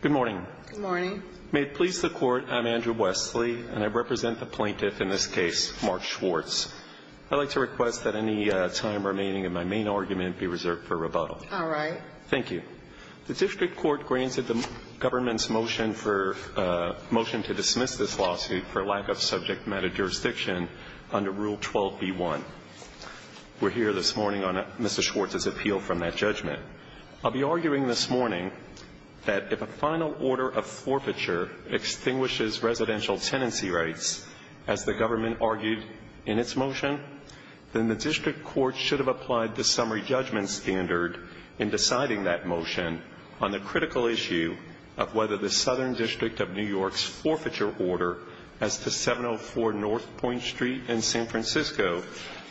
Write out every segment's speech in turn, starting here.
Good morning. Good morning. May it please the Court, I'm Andrew Wesley, and I represent the plaintiff in this case, Mark Schwartz. I'd like to request that any time remaining in my main argument be reserved for rebuttal. All right. Thank you. The district court granted the government's motion to dismiss this lawsuit for lack of subject matter jurisdiction under Rule 12b-1. We're here this morning on Mr. Schwartz's appeal from that judgment. I'll be arguing this morning that if a final order of forfeiture extinguishes residential tenancy rights, as the government argued in its motion, then the district court should have applied the summary judgment standard in deciding that motion on the critical issue of whether the Southern District of New York's forfeiture order as to 704 North Point Street in San Francisco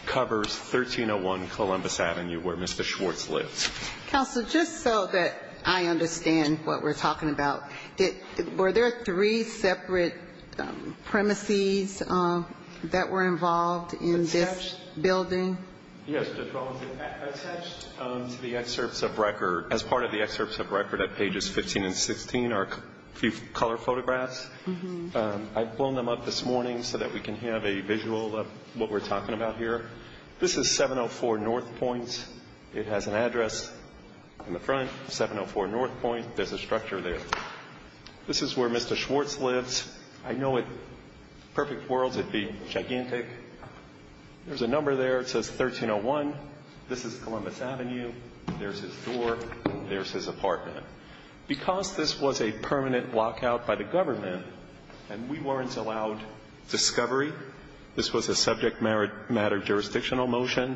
covers 1301 Columbus Avenue where Mr. Schwartz lives. Counsel, just so that I understand what we're talking about, were there three separate premises that were involved in this building? Yes. Attached to the excerpts of record, as part of the excerpts of record at pages 15 and 16 are a few color photographs. I've blown them up this morning so that we can have a visual of what we're talking about here. This is 704 North Point. It has an address in the front, 704 North Point. There's a structure there. This is where Mr. Schwartz lives. I know in perfect worlds it would be gigantic. There's a number there. It says 1301. This is Columbus Avenue. There's his door. There's his apartment. Because this was a permanent lockout by the government and we weren't allowed discovery, this was a subject matter jurisdictional motion,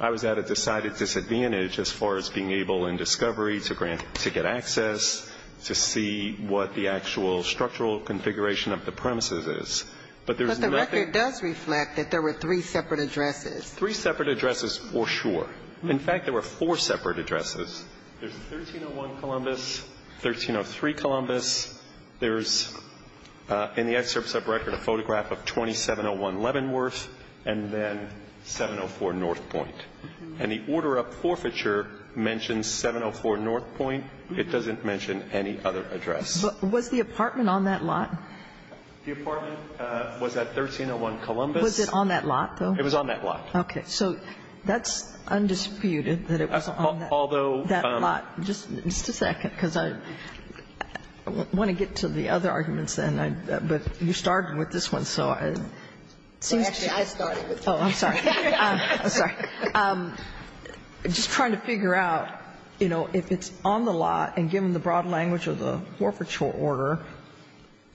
I was at a decided disadvantage as far as being able in discovery to get access, to see what the actual structural configuration of the premises is. But the record does reflect that there were three separate addresses. Three separate addresses for sure. In fact, there were four separate addresses. There's 1301 Columbus, 1303 Columbus. There's in the excerpts of record a photograph of 2701 Leavenworth and then 704 North Point. And the order of forfeiture mentions 704 North Point. It doesn't mention any other address. But was the apartment on that lot? The apartment was at 1301 Columbus. Was it on that lot, though? It was on that lot. Okay. So that's undisputed that it was on that lot. Although. Just a second, because I want to get to the other arguments then. But you started with this one, so it seems to me. Actually, I started with this one. Oh, I'm sorry. I'm sorry. I'm just trying to figure out, you know, if it's on the lot and given the broad language of the forfeiture order,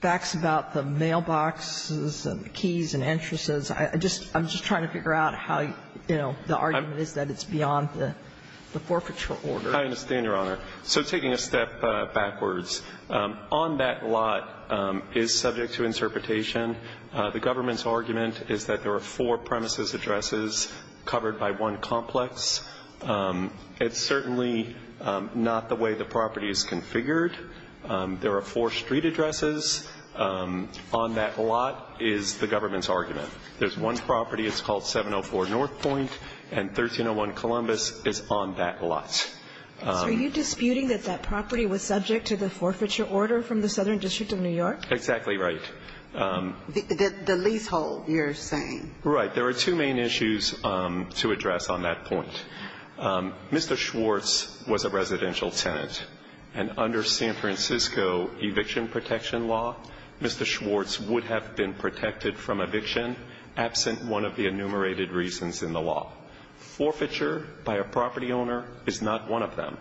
facts about the mailboxes and the keys and entrances, I'm just trying to figure out how, you know, the argument is that it's beyond the forfeiture order. I understand, Your Honor. So taking a step backwards, on that lot is subject to interpretation. The government's argument is that there are four premises addresses covered by one complex. It's certainly not the way the property is configured. There are four street addresses. On that lot is the government's argument. There's one property. It's called 704 North Point, and 1301 Columbus is on that lot. So are you disputing that that property was subject to the forfeiture order from the Southern District of New York? Exactly right. The leasehold, you're saying. Right. There are two main issues to address on that point. Mr. Schwartz was a residential tenant. And under San Francisco eviction protection law, Mr. Schwartz would have been protected from eviction absent one of the enumerated reasons in the law. Forfeiture by a property owner is not one of them.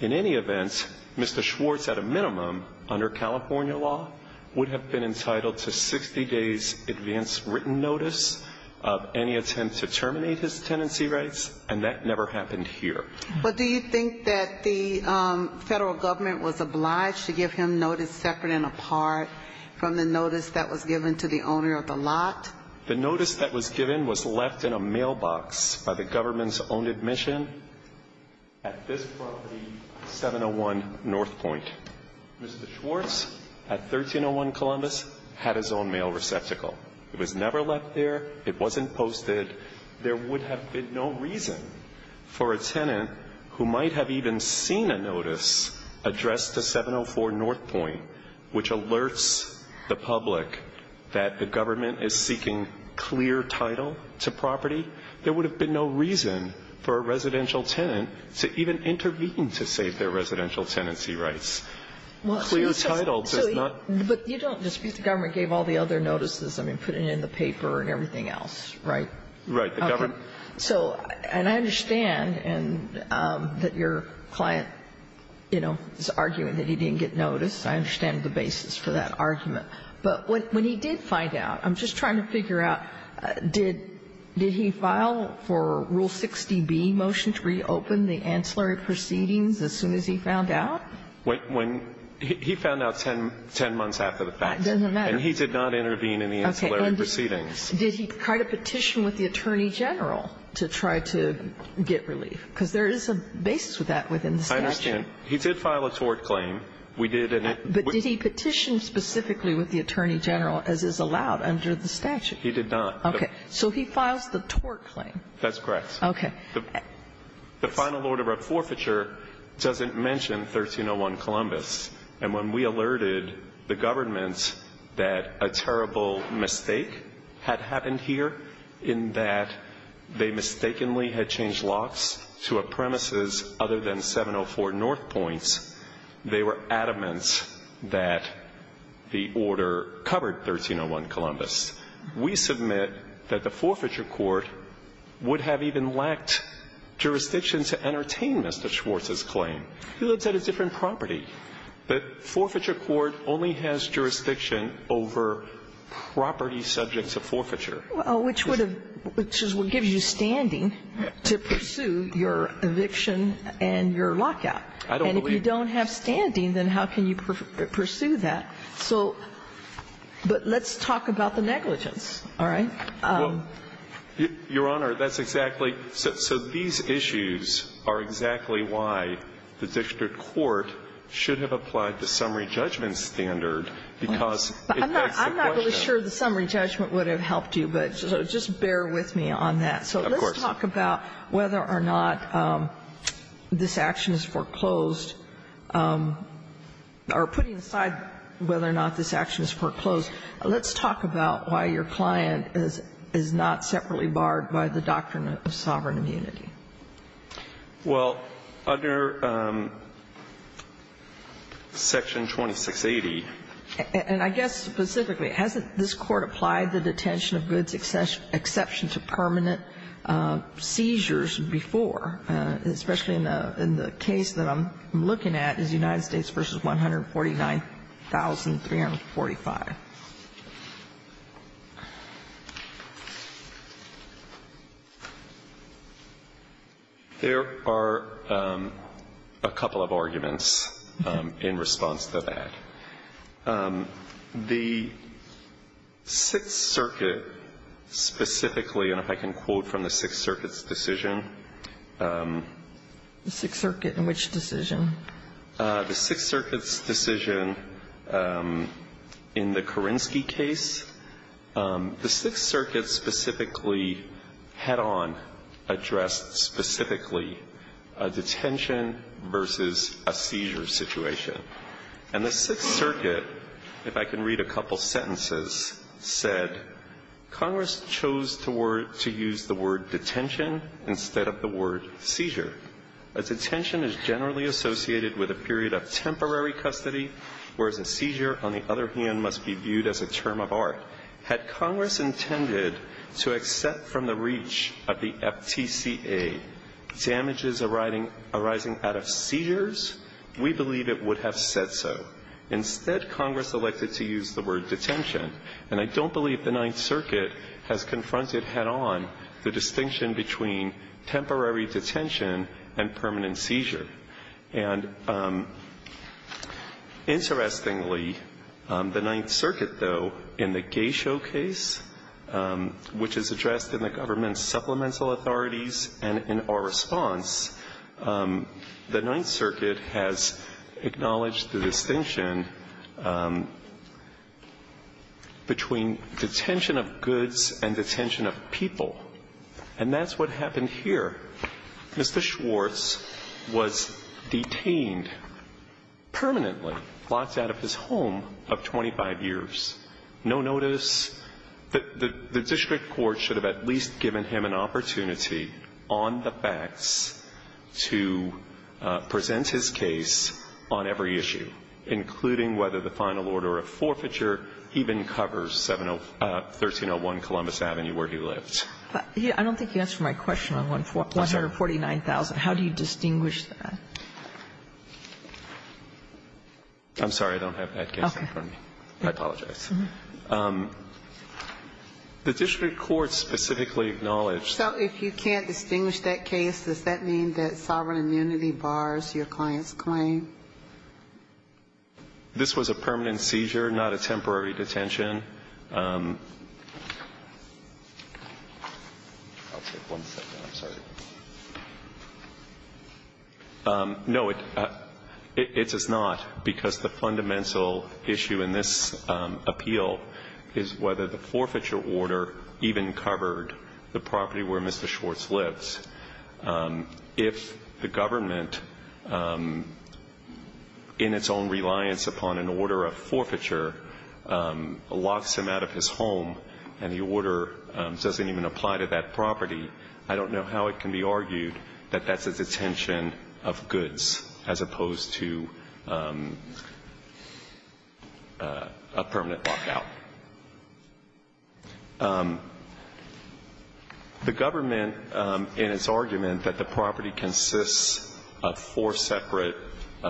In any event, Mr. Schwartz, at a minimum, under California law, would have been entitled to 60 days' advance written notice of any attempt to terminate his tenancy rights, and that never happened here. But do you think that the federal government was obliged to give him notice separate and apart from the notice that was given to the owner of the lot? The notice that was given was left in a mailbox by the government's owned admission at this property, 701 North Point. Mr. Schwartz, at 1301 Columbus, had his own mail receptacle. It was never left there. It wasn't posted. There would have been no reason for a tenant who might have even seen a notice addressed to 704 North Point which alerts the public that the government is seeking clear title to property. There would have been no reason for a residential tenant to even intervene to save their residential tenancy rights. Clear title does not ---- But you don't dispute the government gave all the other notices, I mean, putting in the paper and everything else, right? Right. The government ---- Okay. So, and I understand that your client, you know, is arguing that he didn't get notice. I understand the basis for that argument. But when he did find out, I'm just trying to figure out, did he file for Rule 60B, motion to reopen the ancillary proceedings as soon as he found out? When he found out ten months after the fact. It doesn't matter. And he did not intervene in the ancillary proceedings. Did he try to petition with the Attorney General to try to get relief? Because there is a basis for that within the statute. I understand. He did file a tort claim. We did. But did he petition specifically with the Attorney General as is allowed under the statute? He did not. Okay. So he files the tort claim. That's correct. The final order of forfeiture doesn't mention 1301 Columbus. And when we alerted the government that a terrible mistake had happened here in that they mistakenly had changed locks to a premises other than 704 North Point, they were adamant that the order covered 1301 Columbus. We submit that the forfeiture court would have even lacked jurisdiction to entertain Mr. Schwartz's claim. He lives at a different property. The forfeiture court only has jurisdiction over property subjects of forfeiture. Well, which would have – which is what gives you standing to pursue your eviction and your lockout. I don't believe that. And if you don't have standing, then how can you pursue that? So – but let's talk about the negligence. All right? Well, Your Honor, that's exactly – so these issues are exactly why the district court should have applied the summary judgment standard, because it begs the question. I'm not really sure the summary judgment would have helped you, but just bear with me on that. Of course. So let's talk about whether or not this action is foreclosed, or putting aside whether or not this action is foreclosed, let's talk about why your client is not separately barred by the doctrine of sovereign immunity. Well, under Section 2680 – And I guess specifically, hasn't this Court applied the detention of goods exception to permanent seizures before, especially in the case that I'm looking at, is United States v. 149,345? There are a couple of arguments in response to that. The Sixth Circuit specifically – and if I can quote from the Sixth Circuit's decision – The Sixth Circuit in which decision? The Sixth Circuit's decision in the Kerinsky case. The Sixth Circuit specifically, head-on, addressed specifically a detention versus a seizure situation. And the Sixth Circuit, if I can read a couple sentences, said, Congress chose to use the word detention instead of the word seizure. A detention is generally associated with a period of temporary custody, whereas a seizure, on the other hand, must be viewed as a term of art. Had Congress intended to accept from the reach of the FTCA damages arising out of seizures, we believe it would have said so. Instead, Congress elected to use the word detention. And I don't believe the Ninth Circuit has confronted head-on the distinction between temporary detention and permanent seizure. And interestingly, the Ninth Circuit, though, in the Gesho case, which is addressed in the government's supplemental authorities and in our response, the Ninth Circuit has acknowledged the distinction between detention of goods and detention of people. And that's what happened here. Mr. Schwartz was detained permanently, locked out of his home of 25 years. No notice. The district court should have at least given him an opportunity on the facts to present his case on every issue, including whether the final order of forfeiture even covers the 1301 Columbus Avenue where he lived. I don't think you answered my question on 149,000. How do you distinguish that? I'm sorry. I don't have that case in front of me. I apologize. The district court specifically acknowledged that. So if you can't distinguish that case, does that mean that sovereign immunity bars your client's claim? This was a permanent seizure, not a temporary detention. I'll take one second. I'm sorry. No, it is not, because the fundamental issue in this appeal is whether the forfeiture order even covered the property where Mr. Schwartz lived. Because if the government, in its own reliance upon an order of forfeiture, locks him out of his home and the order doesn't even apply to that property, I don't know how it can be argued that that's a detention of goods as opposed to a permanent lockout. The government, in its argument that the property consists of four separate –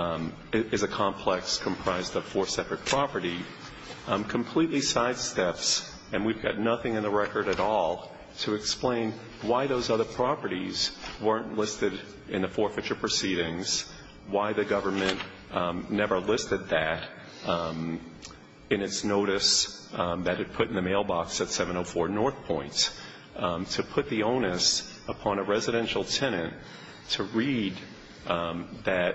is a complex comprised of four separate property, completely sidesteps – and we've got nothing in the record at all to explain why those other properties weren't listed in the forfeiture proceedings, why the government never listed that in its notice that it put in the mailbox at 704 North Point, to put the onus upon a residential tenant to read that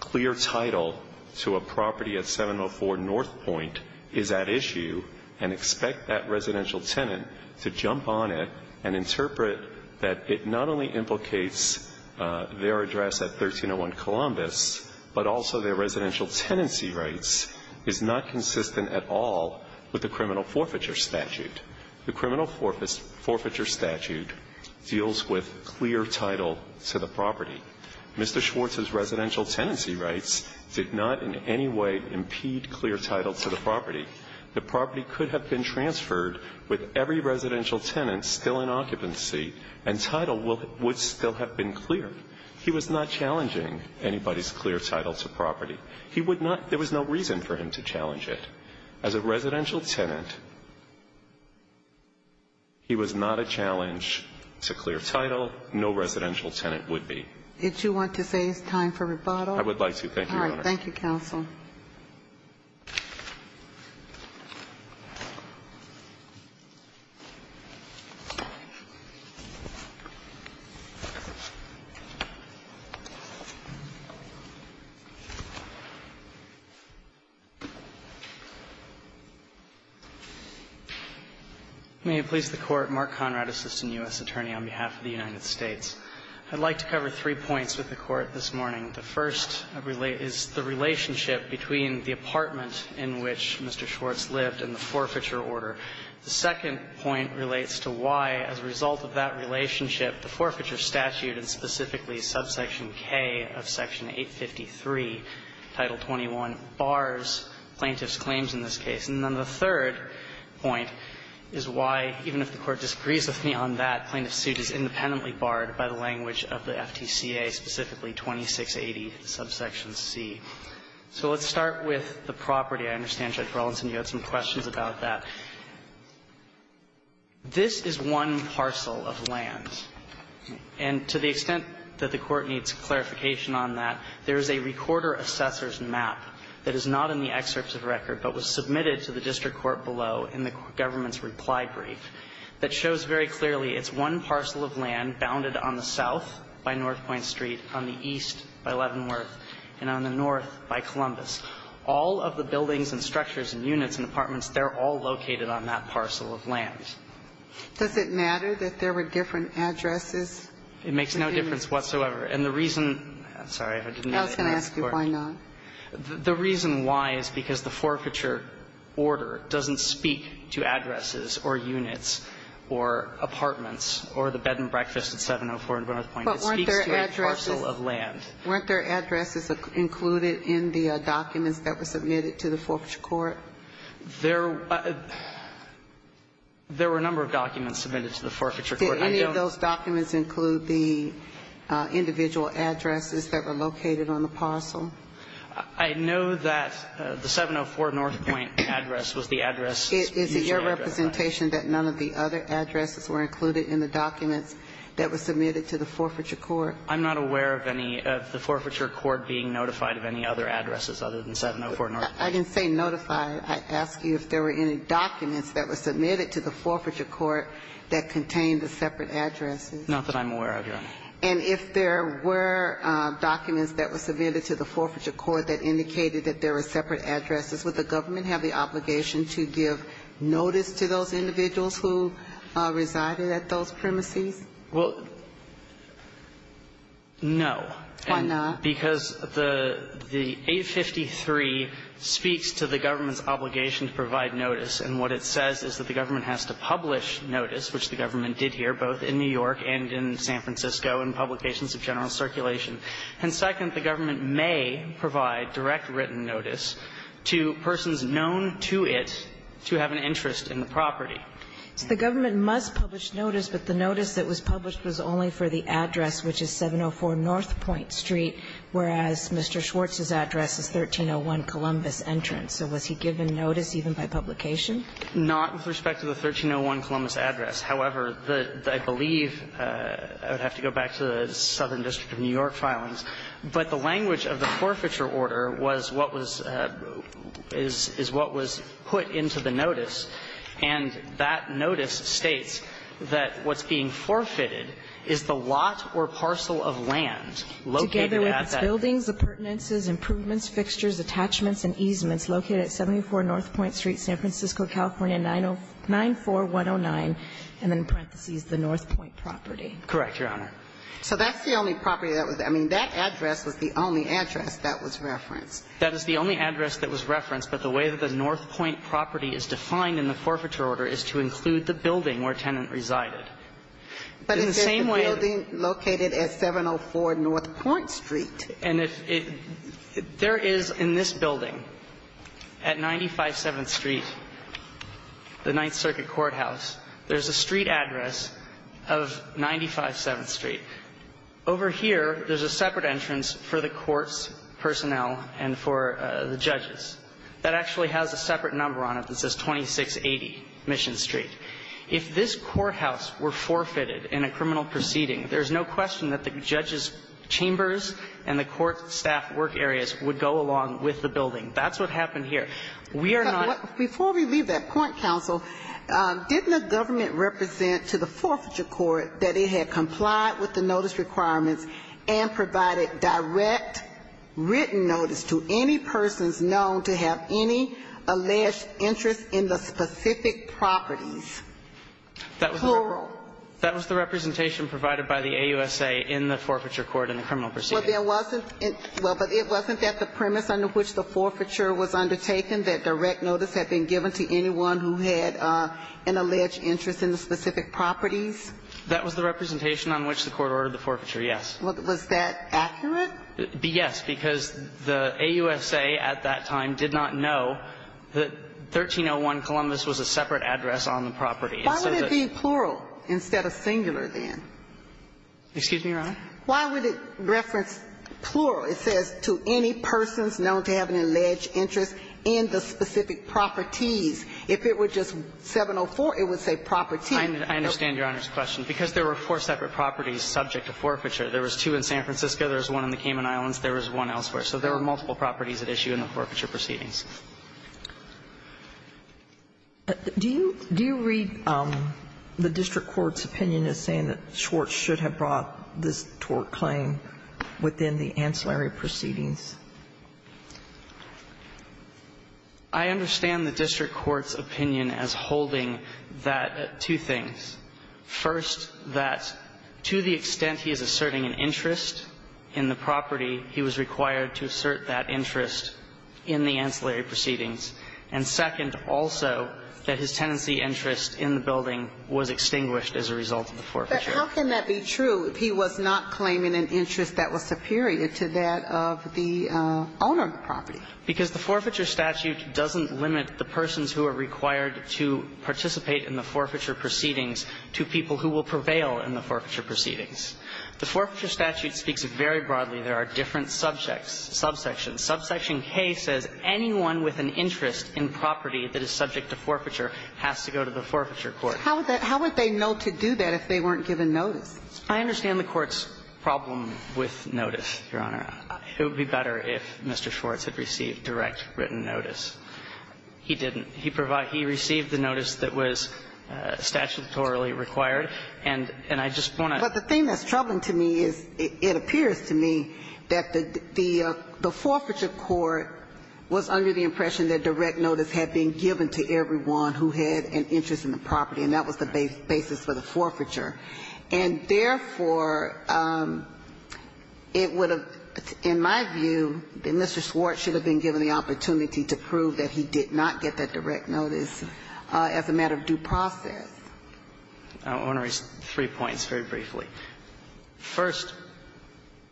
clear title to a property at 704 North Point is at issue and expect that residential tenant to jump on it and interpret that it not only implicates their address at 1301 Columbus, but also their residential tenancy rights is not consistent at all with the criminal forfeiture statute. The criminal forfeiture statute deals with clear title to the property. Mr. Schwartz's residential tenancy rights did not in any way impede clear title to the property. The property could have been transferred with every residential tenant still in occupancy and title would still have been clear. He was not challenging anybody's clear title to property. He would not – there was no reason for him to challenge it. As a residential tenant, he was not a challenge to clear title. No residential tenant would be. If you want to say it's time for rebuttal. I would like to. Thank you, Your Honor. Thank you, counsel. May it please the Court. Mark Conrad, Assistant U.S. Attorney on behalf of the United States. I'd like to cover three points with the Court this morning. The first is the relationship between the apartment in which Mr. Schwartz lived and the forfeiture order. The second point relates to why, as a result of that relationship, the forfeiture statute, and specifically subsection K of section 853, title 21, bars plaintiff's claims in this case. And then the third point is why, even if the Court disagrees with me on that, plaintiff's claims in this case. claims in this case. So let's start with the property. I understand, Judge Rawlinson, you had some questions about that. This is one parcel of land. And to the extent that the Court needs clarification on that, there is a recorder assessor's map that is not in the excerpt of the record but was submitted to the district on the east by Leavenworth and on the north by Columbus. All of the buildings and structures and units and apartments, they're all located on that parcel of land. Does it matter that there were different addresses? It makes no difference whatsoever. And the reason the reason why is because the forfeiture order doesn't speak to addresses or units or apartments or the bed and breakfast at 704 North Point. It speaks to a parcel of land. But weren't there addresses included in the documents that were submitted to the forfeiture court? There were a number of documents submitted to the forfeiture court. Did any of those documents include the individual addresses that were located on the parcel? I know that the 704 North Point address was the address. Is it your representation that none of the other addresses were included in the documents that were submitted to the forfeiture court? I'm not aware of any of the forfeiture court being notified of any other addresses other than 704 North Point. I didn't say notified. I asked you if there were any documents that were submitted to the forfeiture court that contained the separate addresses. Not that I'm aware of, Your Honor. And if there were documents that were submitted to the forfeiture court that indicated that there were separate addresses, would the government have the obligation to give notice to those individuals who resided at those premises? Well, no. Why not? Because the 853 speaks to the government's obligation to provide notice. And what it says is that the government has to publish notice, which the government did here, both in New York and in San Francisco in publications of general circulation. And second, the government may provide direct written notice to persons known to it to have an interest in the property. So the government must publish notice, but the notice that was published was only for the address, which is 704 North Point Street, whereas Mr. Schwartz's address is 1301 Columbus Entrance. So was he given notice even by publication? Not with respect to the 1301 Columbus Address. However, I believe I would have to go back to the Southern District of New York filings. But the language of the forfeiture order was what was put into the notice, and that notice states that what's being forfeited is the lot or parcel of land located at that address. Together with its buildings, appurtenances, improvements, fixtures, attachments, and easements located at 74 North Point Street, San Francisco, California, 94109, and then in parentheses, the North Point property. Correct, Your Honor. So that's the only property that was there. I mean, that address was the only address that was referenced. That is the only address that was referenced. But the way that the North Point property is defined in the forfeiture order is to include the building where tenant resided. But is there a building located at 704 North Point Street? And if it – there is in this building at 957th Street, the Ninth Circuit Courthouse, there's a street address of 957th Street. Over here, there's a separate entrance for the court's personnel and for the judges that actually has a separate number on it that says 2680 Mission Street. If this courthouse were forfeited in a criminal proceeding, there's no question that the judges' chambers and the court staff work areas would go along with the building. That's what happened here. We are not – Before we leave that point, counsel, didn't the government represent to the forfeiture court that it had complied with the notice requirements and provided direct written notice to any persons known to have any alleged interest in the specific properties, plural? That was the representation provided by the AUSA in the forfeiture court in the criminal proceeding. Well, there wasn't – well, but it wasn't that the premise under which the forfeiture was undertaken, that direct notice had been given to anyone who had an alleged interest in the specific properties? That was the representation on which the court ordered the forfeiture, yes. Was that accurate? Yes, because the AUSA at that time did not know that 1301 Columbus was a separate address on the property. Why would it be plural? Instead of singular then? Excuse me, Your Honor? Why would it reference plural? It says to any persons known to have an alleged interest in the specific properties. If it were just 704, it would say property. I understand Your Honor's question. Because there were four separate properties subject to forfeiture. There was two in San Francisco. There was one in the Cayman Islands. There was one elsewhere. So there were multiple properties at issue in the forfeiture proceedings. Do you read the district court's opinion as saying that Schwartz should have brought this tort claim within the ancillary proceedings? I understand the district court's opinion as holding that, two things. First, that to the extent he is asserting an interest in the property, he was required to assert that interest in the ancillary proceedings. And second also, that his tenancy interest in the building was extinguished as a result of the forfeiture. But how can that be true if he was not claiming an interest that was superior to that of the owner of the property? Because the forfeiture statute doesn't limit the persons who are required to participate in the forfeiture proceedings to people who will prevail in the forfeiture proceedings. The forfeiture statute speaks very broadly. There are different subjects, subsections. Subsection K says anyone with an interest in property that is subject to forfeiture has to go to the forfeiture court. How would they know to do that if they weren't given notice? I understand the court's problem with notice, Your Honor. It would be better if Mr. Schwartz had received direct written notice. He didn't. He received the notice that was statutorily required. And I just want to say that. What's troubling to me is it appears to me that the forfeiture court was under the impression that direct notice had been given to everyone who had an interest in the property, and that was the basis for the forfeiture. And therefore, it would have, in my view, Mr. Schwartz should have been given the opportunity to prove that he did not get that direct notice as a matter of due process. Now, I want to raise three points very briefly. First,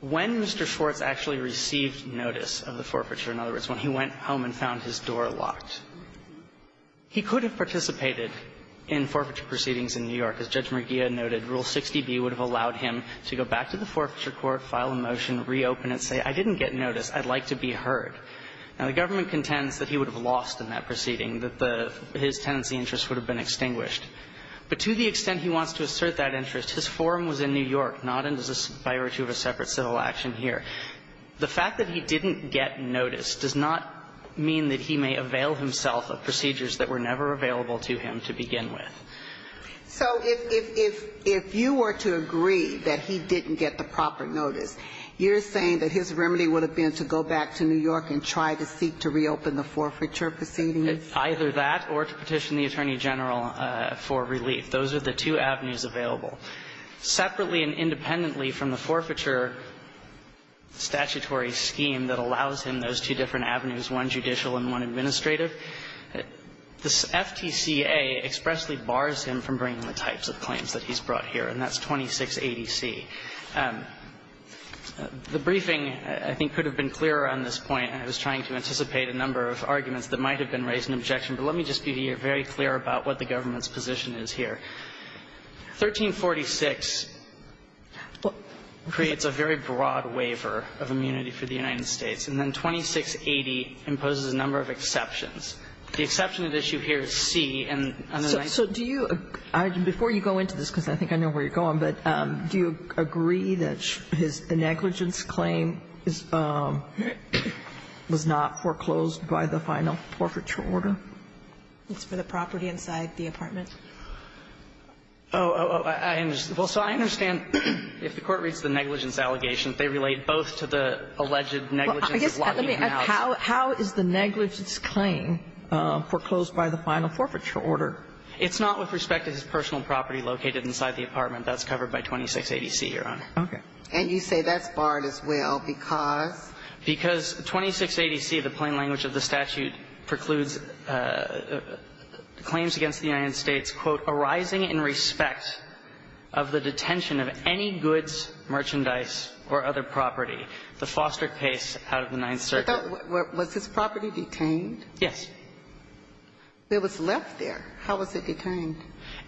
when Mr. Schwartz actually received notice of the forfeiture, in other words, when he went home and found his door locked, he could have participated in forfeiture proceedings in New York. As Judge Mergia noted, Rule 60b would have allowed him to go back to the forfeiture court, file a motion, reopen it, say, I didn't get notice, I'd like to be heard. Now, the government contends that he would have lost in that proceeding, that the fact that his tenancy interest would have been extinguished. But to the extent he wants to assert that interest, his forum was in New York, not in the spirit of a separate civil action here. The fact that he didn't get notice does not mean that he may avail himself of procedures that were never available to him to begin with. So if you were to agree that he didn't get the proper notice, you're saying that his remedy would have been to go back to New York and try to seek to reopen the forfeiture proceedings? Either that or to petition the Attorney General for relief. Those are the two avenues available. Separately and independently from the forfeiture statutory scheme that allows him those two different avenues, one judicial and one administrative, the FTCA expressly bars him from bringing the types of claims that he's brought here, and that's 2680c. The briefing, I think, could have been clearer on this point. I was trying to anticipate a number of arguments that might have been raised in objection. But let me just be very clear about what the government's position is here. 1346 creates a very broad waiver of immunity for the United States, and then 2680 imposes a number of exceptions. The exception at issue here is c, and under that you can't see it. Kagan. So do you agree, before you go into this, because I think I know where you're going, but do you agree that the negligence claim is not foreclosed by the final forfeiture order? It's for the property inside the apartment. Oh, I understand. Well, so I understand if the Court reads the negligence allegation, they relate both to the alleged negligence as well. How is the negligence claim foreclosed by the final forfeiture order? It's not with respect to his personal property located inside the apartment. That's covered by 2680C, Your Honor. Okay. And you say that's barred as well because? Because 2680C, the plain language of the statute, precludes claims against the United States, quote, arising in respect of the detention of any goods, merchandise, or other property. The foster case out of the Ninth Circuit. Was this property detained? Yes. It was left there. How was it detained?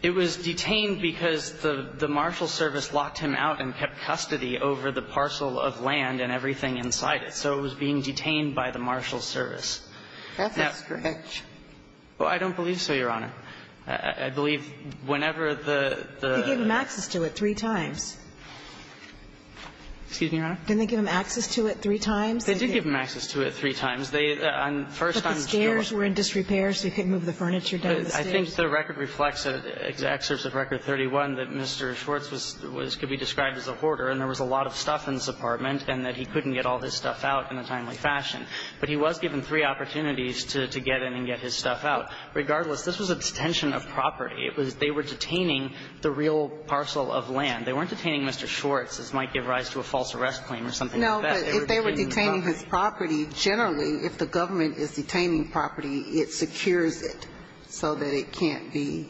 It was detained because the marshal's service locked him out and kept custody over the parcel of land and everything inside it. So it was being detained by the marshal's service. That's a stretch. Well, I don't believe so, Your Honor. I believe whenever the the. They gave him access to it three times. Excuse me, Your Honor? Didn't they give him access to it three times? They did give him access to it three times. They, on first time. But the stairs were in disrepair, so he couldn't move the furniture down the stairs. I think the record reflects excerpts of Record 31 that Mr. Schwartz was, could be described as a hoarder and there was a lot of stuff in this apartment and that he couldn't get all his stuff out in a timely fashion. But he was given three opportunities to get in and get his stuff out. Regardless, this was a detention of property. They were detaining the real parcel of land. They weren't detaining Mr. Schwartz. This might give rise to a false arrest claim or something like that. No, but if they were detaining his property, generally, if the government is detaining property, it secures it so that it can't be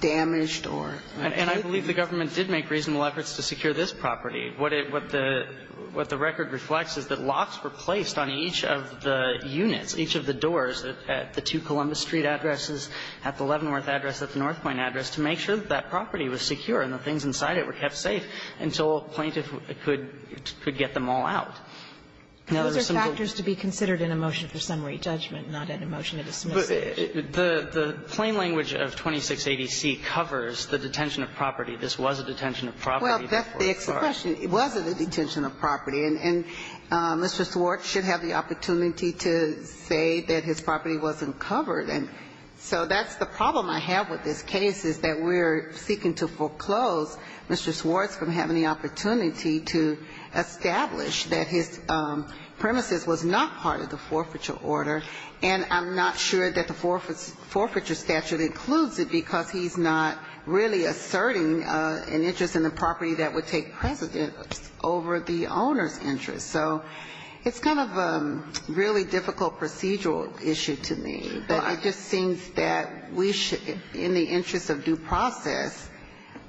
damaged or taken. And I believe the government did make reasonable efforts to secure this property. What the record reflects is that locks were placed on each of the units, each of the doors, at the two Columbus Street addresses, at the Leavenworth address, at the North Point address, to make sure that that property was secure and the things inside it were kept safe until a plaintiff could get them all out. Those are factors to be considered in a motion for summary judgment, not in a motion to dismiss it. But the plain language of 2680C covers the detention of property. This was a detention of property. Well, that's the question. It wasn't a detention of property. And Mr. Schwartz should have the opportunity to say that his property wasn't covered. And so that's the problem I have with this case, is that we're seeking to foreclose Mr. Schwartz from having the opportunity to establish that his premises was not part of the forfeiture order. And I'm not sure that the forfeiture statute includes it because he's not really asserting an interest in the property that would take precedence over the owner's interest. So it's kind of a really difficult procedural issue to me. But it just seems that we should, in the interest of due process,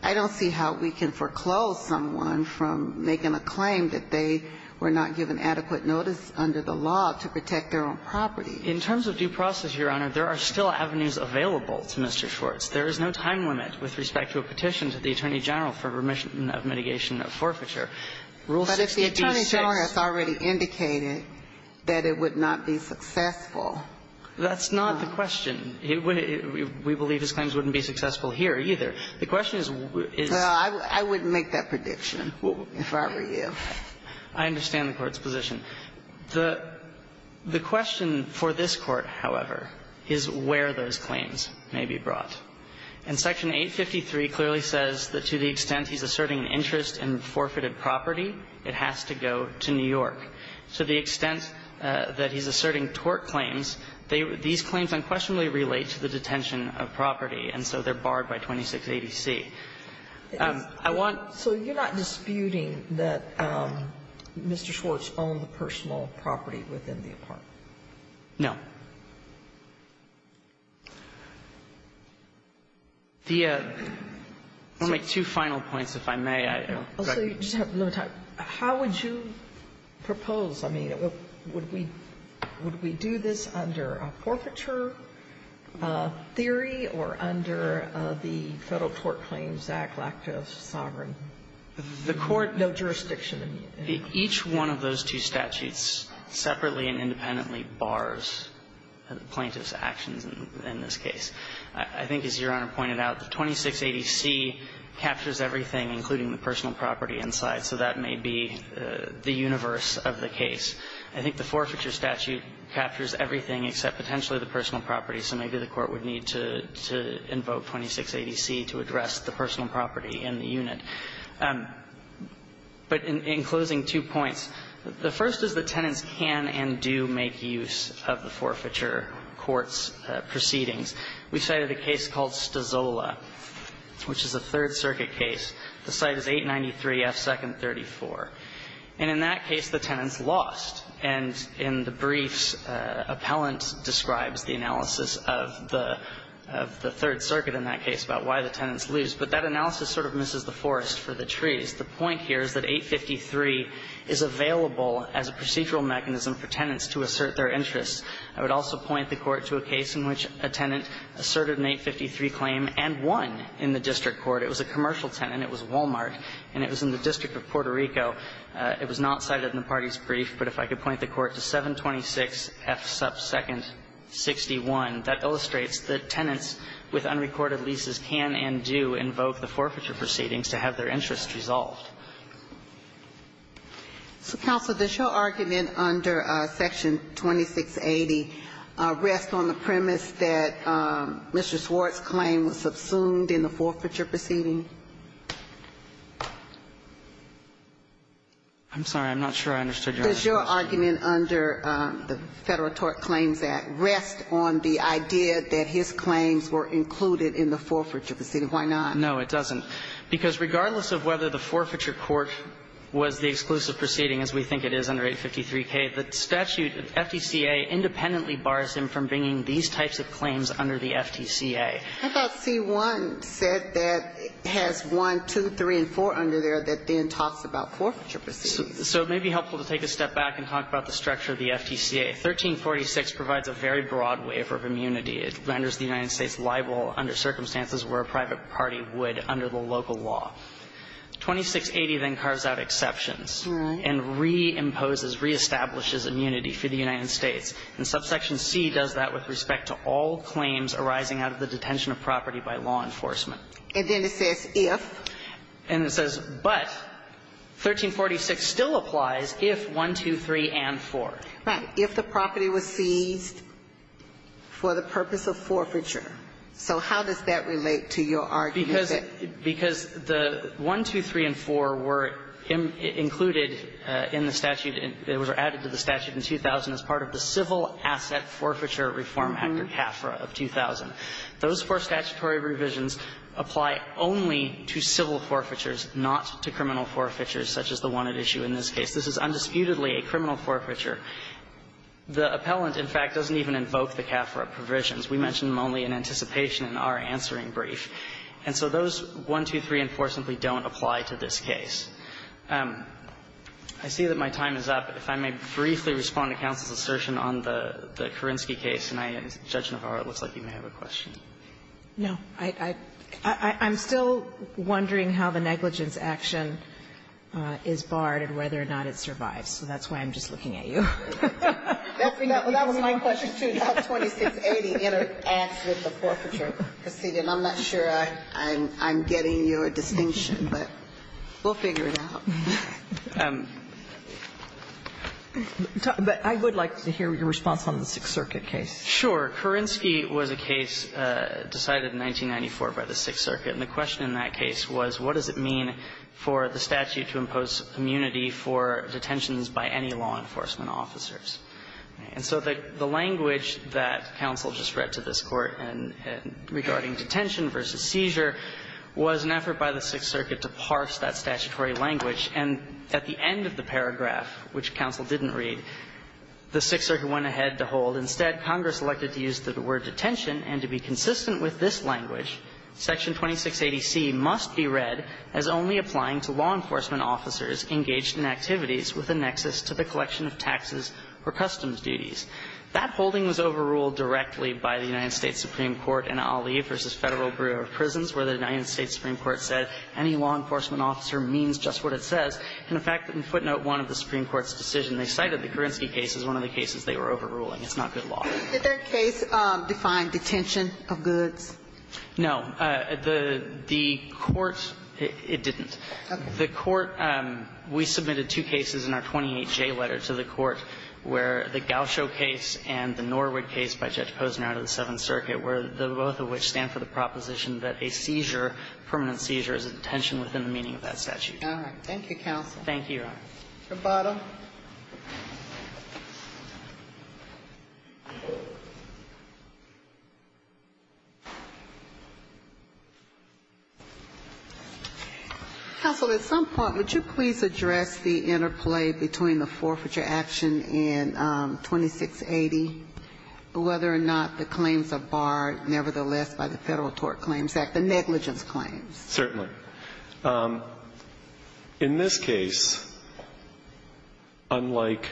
I don't see how we can foreclose someone from making a claim that they were not given adequate notice under the law to protect their own property. In terms of due process, Your Honor, there are still avenues available to Mr. Schwartz. There is no time limit with respect to a petition to the Attorney General for permission of mitigation of forfeiture. Rule 66. Ginsburg. But if the Attorney General has already indicated that it would not be successful. That's not the question. We believe his claims wouldn't be successful here, either. The question is, is. Well, I wouldn't make that prediction if I were you. I understand the Court's position. The question for this Court, however, is where those claims may be brought. And Section 853 clearly says that to the extent he's asserting an interest in forfeited property, it has to go to New York. To the extent that he's asserting tort claims, these claims unquestionably relate to the detention of property, and so they're barred by 2680C. I want. So you're not disputing that Mr. Schwartz owned the personal property within the apartment? No. The only two final points, if I may. Also, you just have a little time. How would you propose? I mean, would we do this under a forfeiture theory or under the Federal Tort Claims Act, Lacta Sovereign? The Court. No jurisdiction. Each one of those two statutes separately and independently bars the plaintiff's actions in this case. I think, as Your Honor pointed out, the 2680C captures everything, including the personal property inside, so that may be the universe of the case. I think the forfeiture statute captures everything except potentially the personal property, so maybe the Court would need to invoke 2680C to address the personal property in the unit. But in closing, two points. The first is the tenants can and do make use of the forfeiture court's proceedings. We cited a case called Stazola, which is a Third Circuit case. The site is 893F, second 34. And in that case, the tenants lost, and in the briefs, appellant describes the analysis of the Third Circuit in that case about why the tenants lose. But that analysis sort of misses the forest for the trees. The point here is that 853 is available as a procedural mechanism for tenants to assert their interests. I would also point the Court to a case in which a tenant asserted an 853 claim and won in the district court. It was a commercial tenant. It was Wal-Mart, and it was in the District of Puerto Rico. It was not cited in the party's brief, but if I could point the Court to 726F, second 61, that illustrates that tenants with unrecorded leases can and do invoke the forfeiture proceedings to have their interests resolved. So, counsel, does your argument under Section 2680 rest on the premise that Mr. Swartz's claim was subsumed in the forfeiture proceeding? I'm sorry. I'm not sure I understood your other question. Does your argument under the Federal Tort Claims Act rest on the idea that his claims were included in the forfeiture proceeding? Why not? No, it doesn't. Because regardless of whether the forfeiture court was the exclusive proceeding, as we think it is under 853K, the statute, FTCA, independently bars him from bringing these types of claims under the FTCA. How about C-1 said that it has 1, 2, 3, and 4 under there that then talks about forfeiture proceedings? So it may be helpful to take a step back and talk about the structure of the FTCA. 1346 provides a very broad waiver of immunity. It renders the United States liable under circumstances where a private party would under the local law. 2680 then carves out exceptions and reimposes, reestablishes immunity for the United States. And subsection C does that with respect to all claims arising out of the detention of property by law enforcement. And then it says if. And it says, but, 1346 still applies if 1, 2, 3, and 4. Right. If the property was seized for the purpose of forfeiture. So how does that relate to your argument that the 1, 2, 3, and 4 were included in the statute and were added to the statute in 2000 as part of the Civil Asset Forfeiture Reform Act, or CAFRA, of 2000. Those four statutory revisions apply only to civil forfeitures, not to criminal forfeitures such as the one at issue in this case. This is undisputedly a criminal forfeiture. The appellant, in fact, doesn't even invoke the CAFRA provisions. We mention them only in anticipation in our answering brief. And so those 1, 2, 3, and 4 simply don't apply to this case. I see that my time is up. If I may briefly respond to counsel's assertion on the Kerensky case, and I ask Judge Navarro, it looks like you may have a question. No. I'm still wondering how the negligence action is barred and whether or not it survives. So that's why I'm just looking at you. That was my question, too, about 2680, the answer to the forfeiture proceeding. I'm not sure I'm getting your distinction, but we'll figure it out. But I would like to hear your response on the Sixth Circuit case. Sure. Kerensky was a case decided in 1994 by the Sixth Circuit. And the question in that case was, what does it mean for the statute to impose immunity for detentions by any law enforcement officers? And so the language that counsel just read to this Court regarding detention versus seizure was an effort by the Sixth Circuit to parse that statutory language. And at the end of the paragraph, which counsel didn't read, the Sixth Circuit went ahead to hold. Instead, Congress elected to use the word detention, and to be consistent with this language, Section 2680C must be read as only applying to law enforcement officers engaged in activities with a nexus to the collection of taxes or customs duties. That holding was overruled directly by the United States Supreme Court in Ali v. Federal Bureau of Prisons, where the United States Supreme Court said any law enforcement officer means just what it says. And in fact, in footnote 1 of the Supreme Court's decision, they cited the Kerensky case as one of the cases they were overruling. It's not good law. Ginsburg. Did their case define detention of goods? No. The Court, it didn't. The Court, we submitted two cases in our 28J letter to the Court where the Gaucho case and the Norwood case by Judge Posner out of the Seventh Circuit were the both of which stand for the proposition that a seizure, permanent seizure, is a detention within the meaning of that statute. Thank you, Your Honor. Your bottom. Counsel, at some point, would you please address the interplay between the forfeiture action and 2680, whether or not the claims are barred nevertheless by the Federal Tort Claims Act, the negligence claims? Certainly. In this case, unlike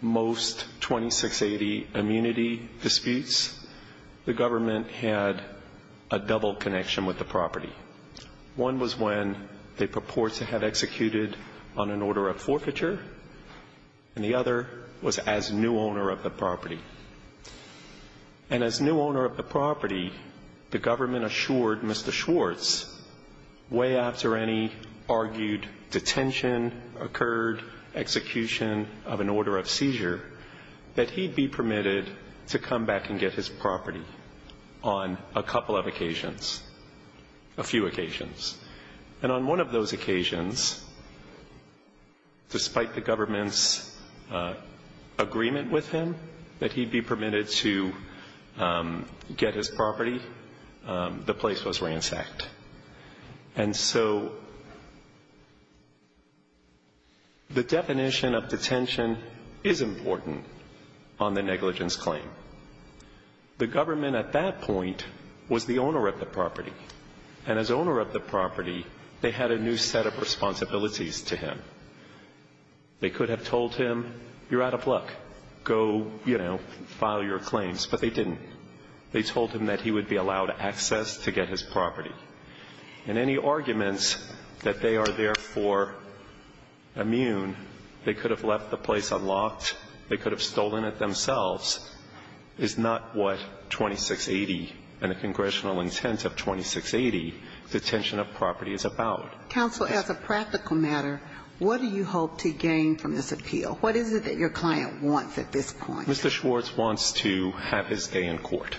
most 2680 immunity disputes, the government had a double connection with the property. One was when they purported to have executed on an order of forfeiture, and the other And as new owner of the property, the government assured Mr. Schwartz, way after any argued detention occurred, execution of an order of seizure, that he'd be permitted to come back and get his property on a couple of occasions, a few occasions. And on one of those occasions, despite the government's agreement with him that he'd be permitted to get his property, the place was ransacked. And so the definition of detention is important on the negligence claim. The government at that point was the owner of the property. And as owner of the property, they had a new set of responsibilities to him. They could have told him, you're out of luck, go, you know, file your claims. But they didn't. They told him that he would be allowed access to get his property. And any arguments that they are therefore immune, they could have left the place unlocked, they could have stolen it themselves, is not what 2680 and the congressional intent of 2680 detention of property is about. Counsel, as a practical matter, what do you hope to gain from this appeal? What is it that your client wants at this point? Mr. Schwartz wants to have his day in court.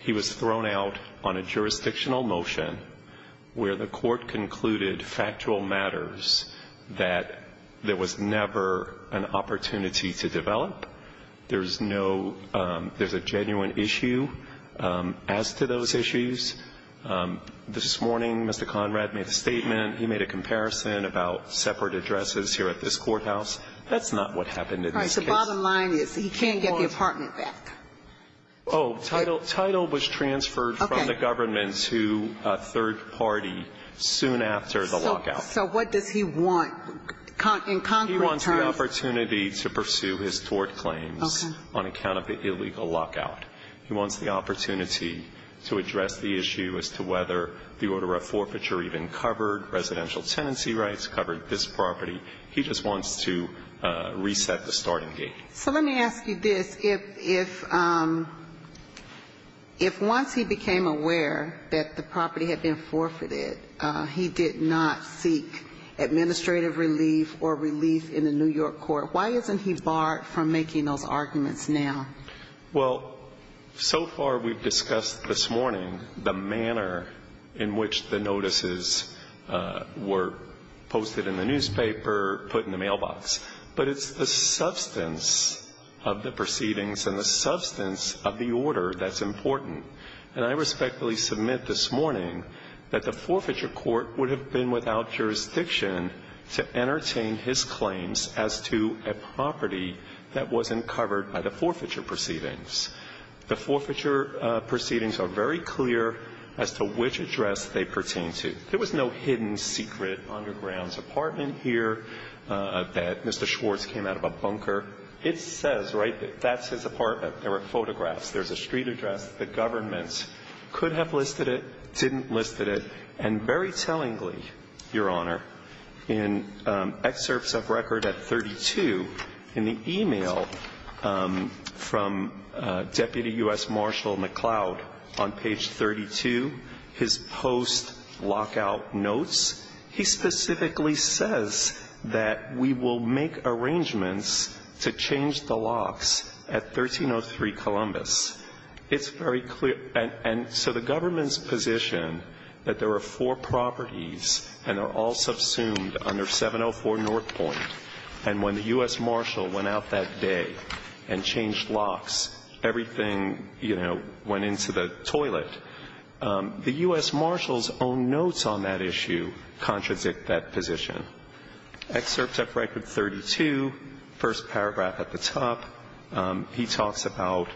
He was thrown out on a jurisdictional motion where the court concluded factual matters that there was never an opportunity to develop. There's no – there's a genuine issue as to those issues. This morning, Mr. Conrad made a statement. He made a comparison about separate addresses here at this courthouse. That's not what happened in this case. All right. So bottom line is he can't get the apartment back. Oh, title was transferred from the government to a third party soon after the lockout. So what does he want in concrete terms? He wants the opportunity to pursue his tort claims on account of the illegal lockout. He wants the opportunity to address the issue as to whether the order of forfeiture even covered residential tenancy rights, covered this property. He just wants to reset the starting gate. So let me ask you this. If once he became aware that the property had been forfeited, he did not seek administrative relief or relief in the New York court, why isn't he barred from making those arguments now? Well, so far we've discussed this morning the manner in which the notices were posted in the newspaper, put in the mailbox. But it's the substance of the proceedings and the substance of the order that's important. And I respectfully submit this morning that the forfeiture court would have been without jurisdiction to entertain his claims as to a property that wasn't covered by the forfeiture proceedings. The forfeiture proceedings are very clear as to which address they pertain to. There was no hidden secret underground apartment here that Mr. Schwartz came out of a bunker. It says, right, that that's his apartment. There are photographs. There's a street address. The government could have listed it, didn't list it. And very tellingly, Your Honor, in excerpts of record at 32, in the e-mail from Deputy U.S. Marshal McCloud on page 32, his post lockout notes, he specifically says that we will make arrangements to change the locks at 1303 Columbus. It's very clear. And so the government's position that there are four properties and they're all subsumed under 704 North Point, and when the U.S. Marshal went out that day and changed locks, everything, you know, went into the toilet, the U.S. Marshal's own notes on that issue contradict that position. Excerpts of record 32, first paragraph at the top, he talks about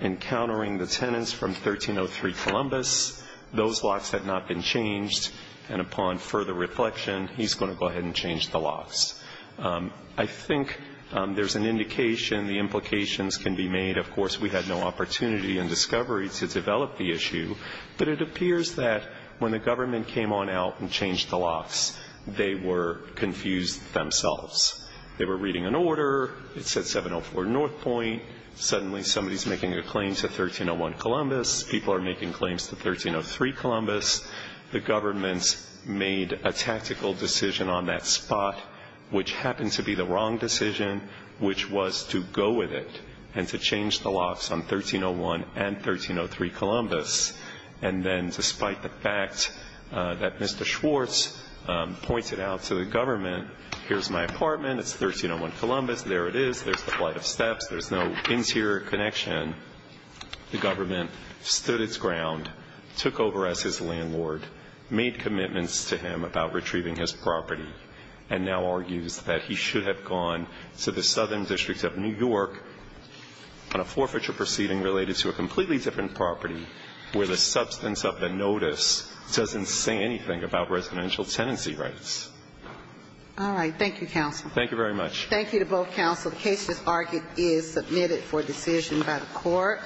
encountering the tenants from 1303 Columbus. Those locks had not been changed. And upon further reflection, he's going to go ahead and change the locks. I think there's an indication, the implications can be made. Of course, we had no opportunity in discovery to develop the issue. But it appears that when the government came on out and changed the locks, they were confused themselves. They were reading an order. It said 704 North Point. Suddenly, somebody's making a claim to 1301 Columbus. People are making claims to 1303 Columbus. The government made a tactical decision on that spot, which happened to be the wrong decision, which was to go with it and to change the locks on 1301 and 1303 Columbus. And then, despite the fact that Mr. Schwartz pointed out to the government, here's my apartment, it's 1301 Columbus, there it is, there's the flight of steps, there's no interior connection. The government stood its ground, took over as his landlord, made commitments to him about retrieving his property. And now argues that he should have gone to the southern district of New York on a forfeiture proceeding related to a completely different property where the substance of the notice doesn't say anything about residential tenancy rights. All right. Thank you, counsel. Thank you very much. Thank you to both counsel. The case, as argued, is submitted for decision by the court.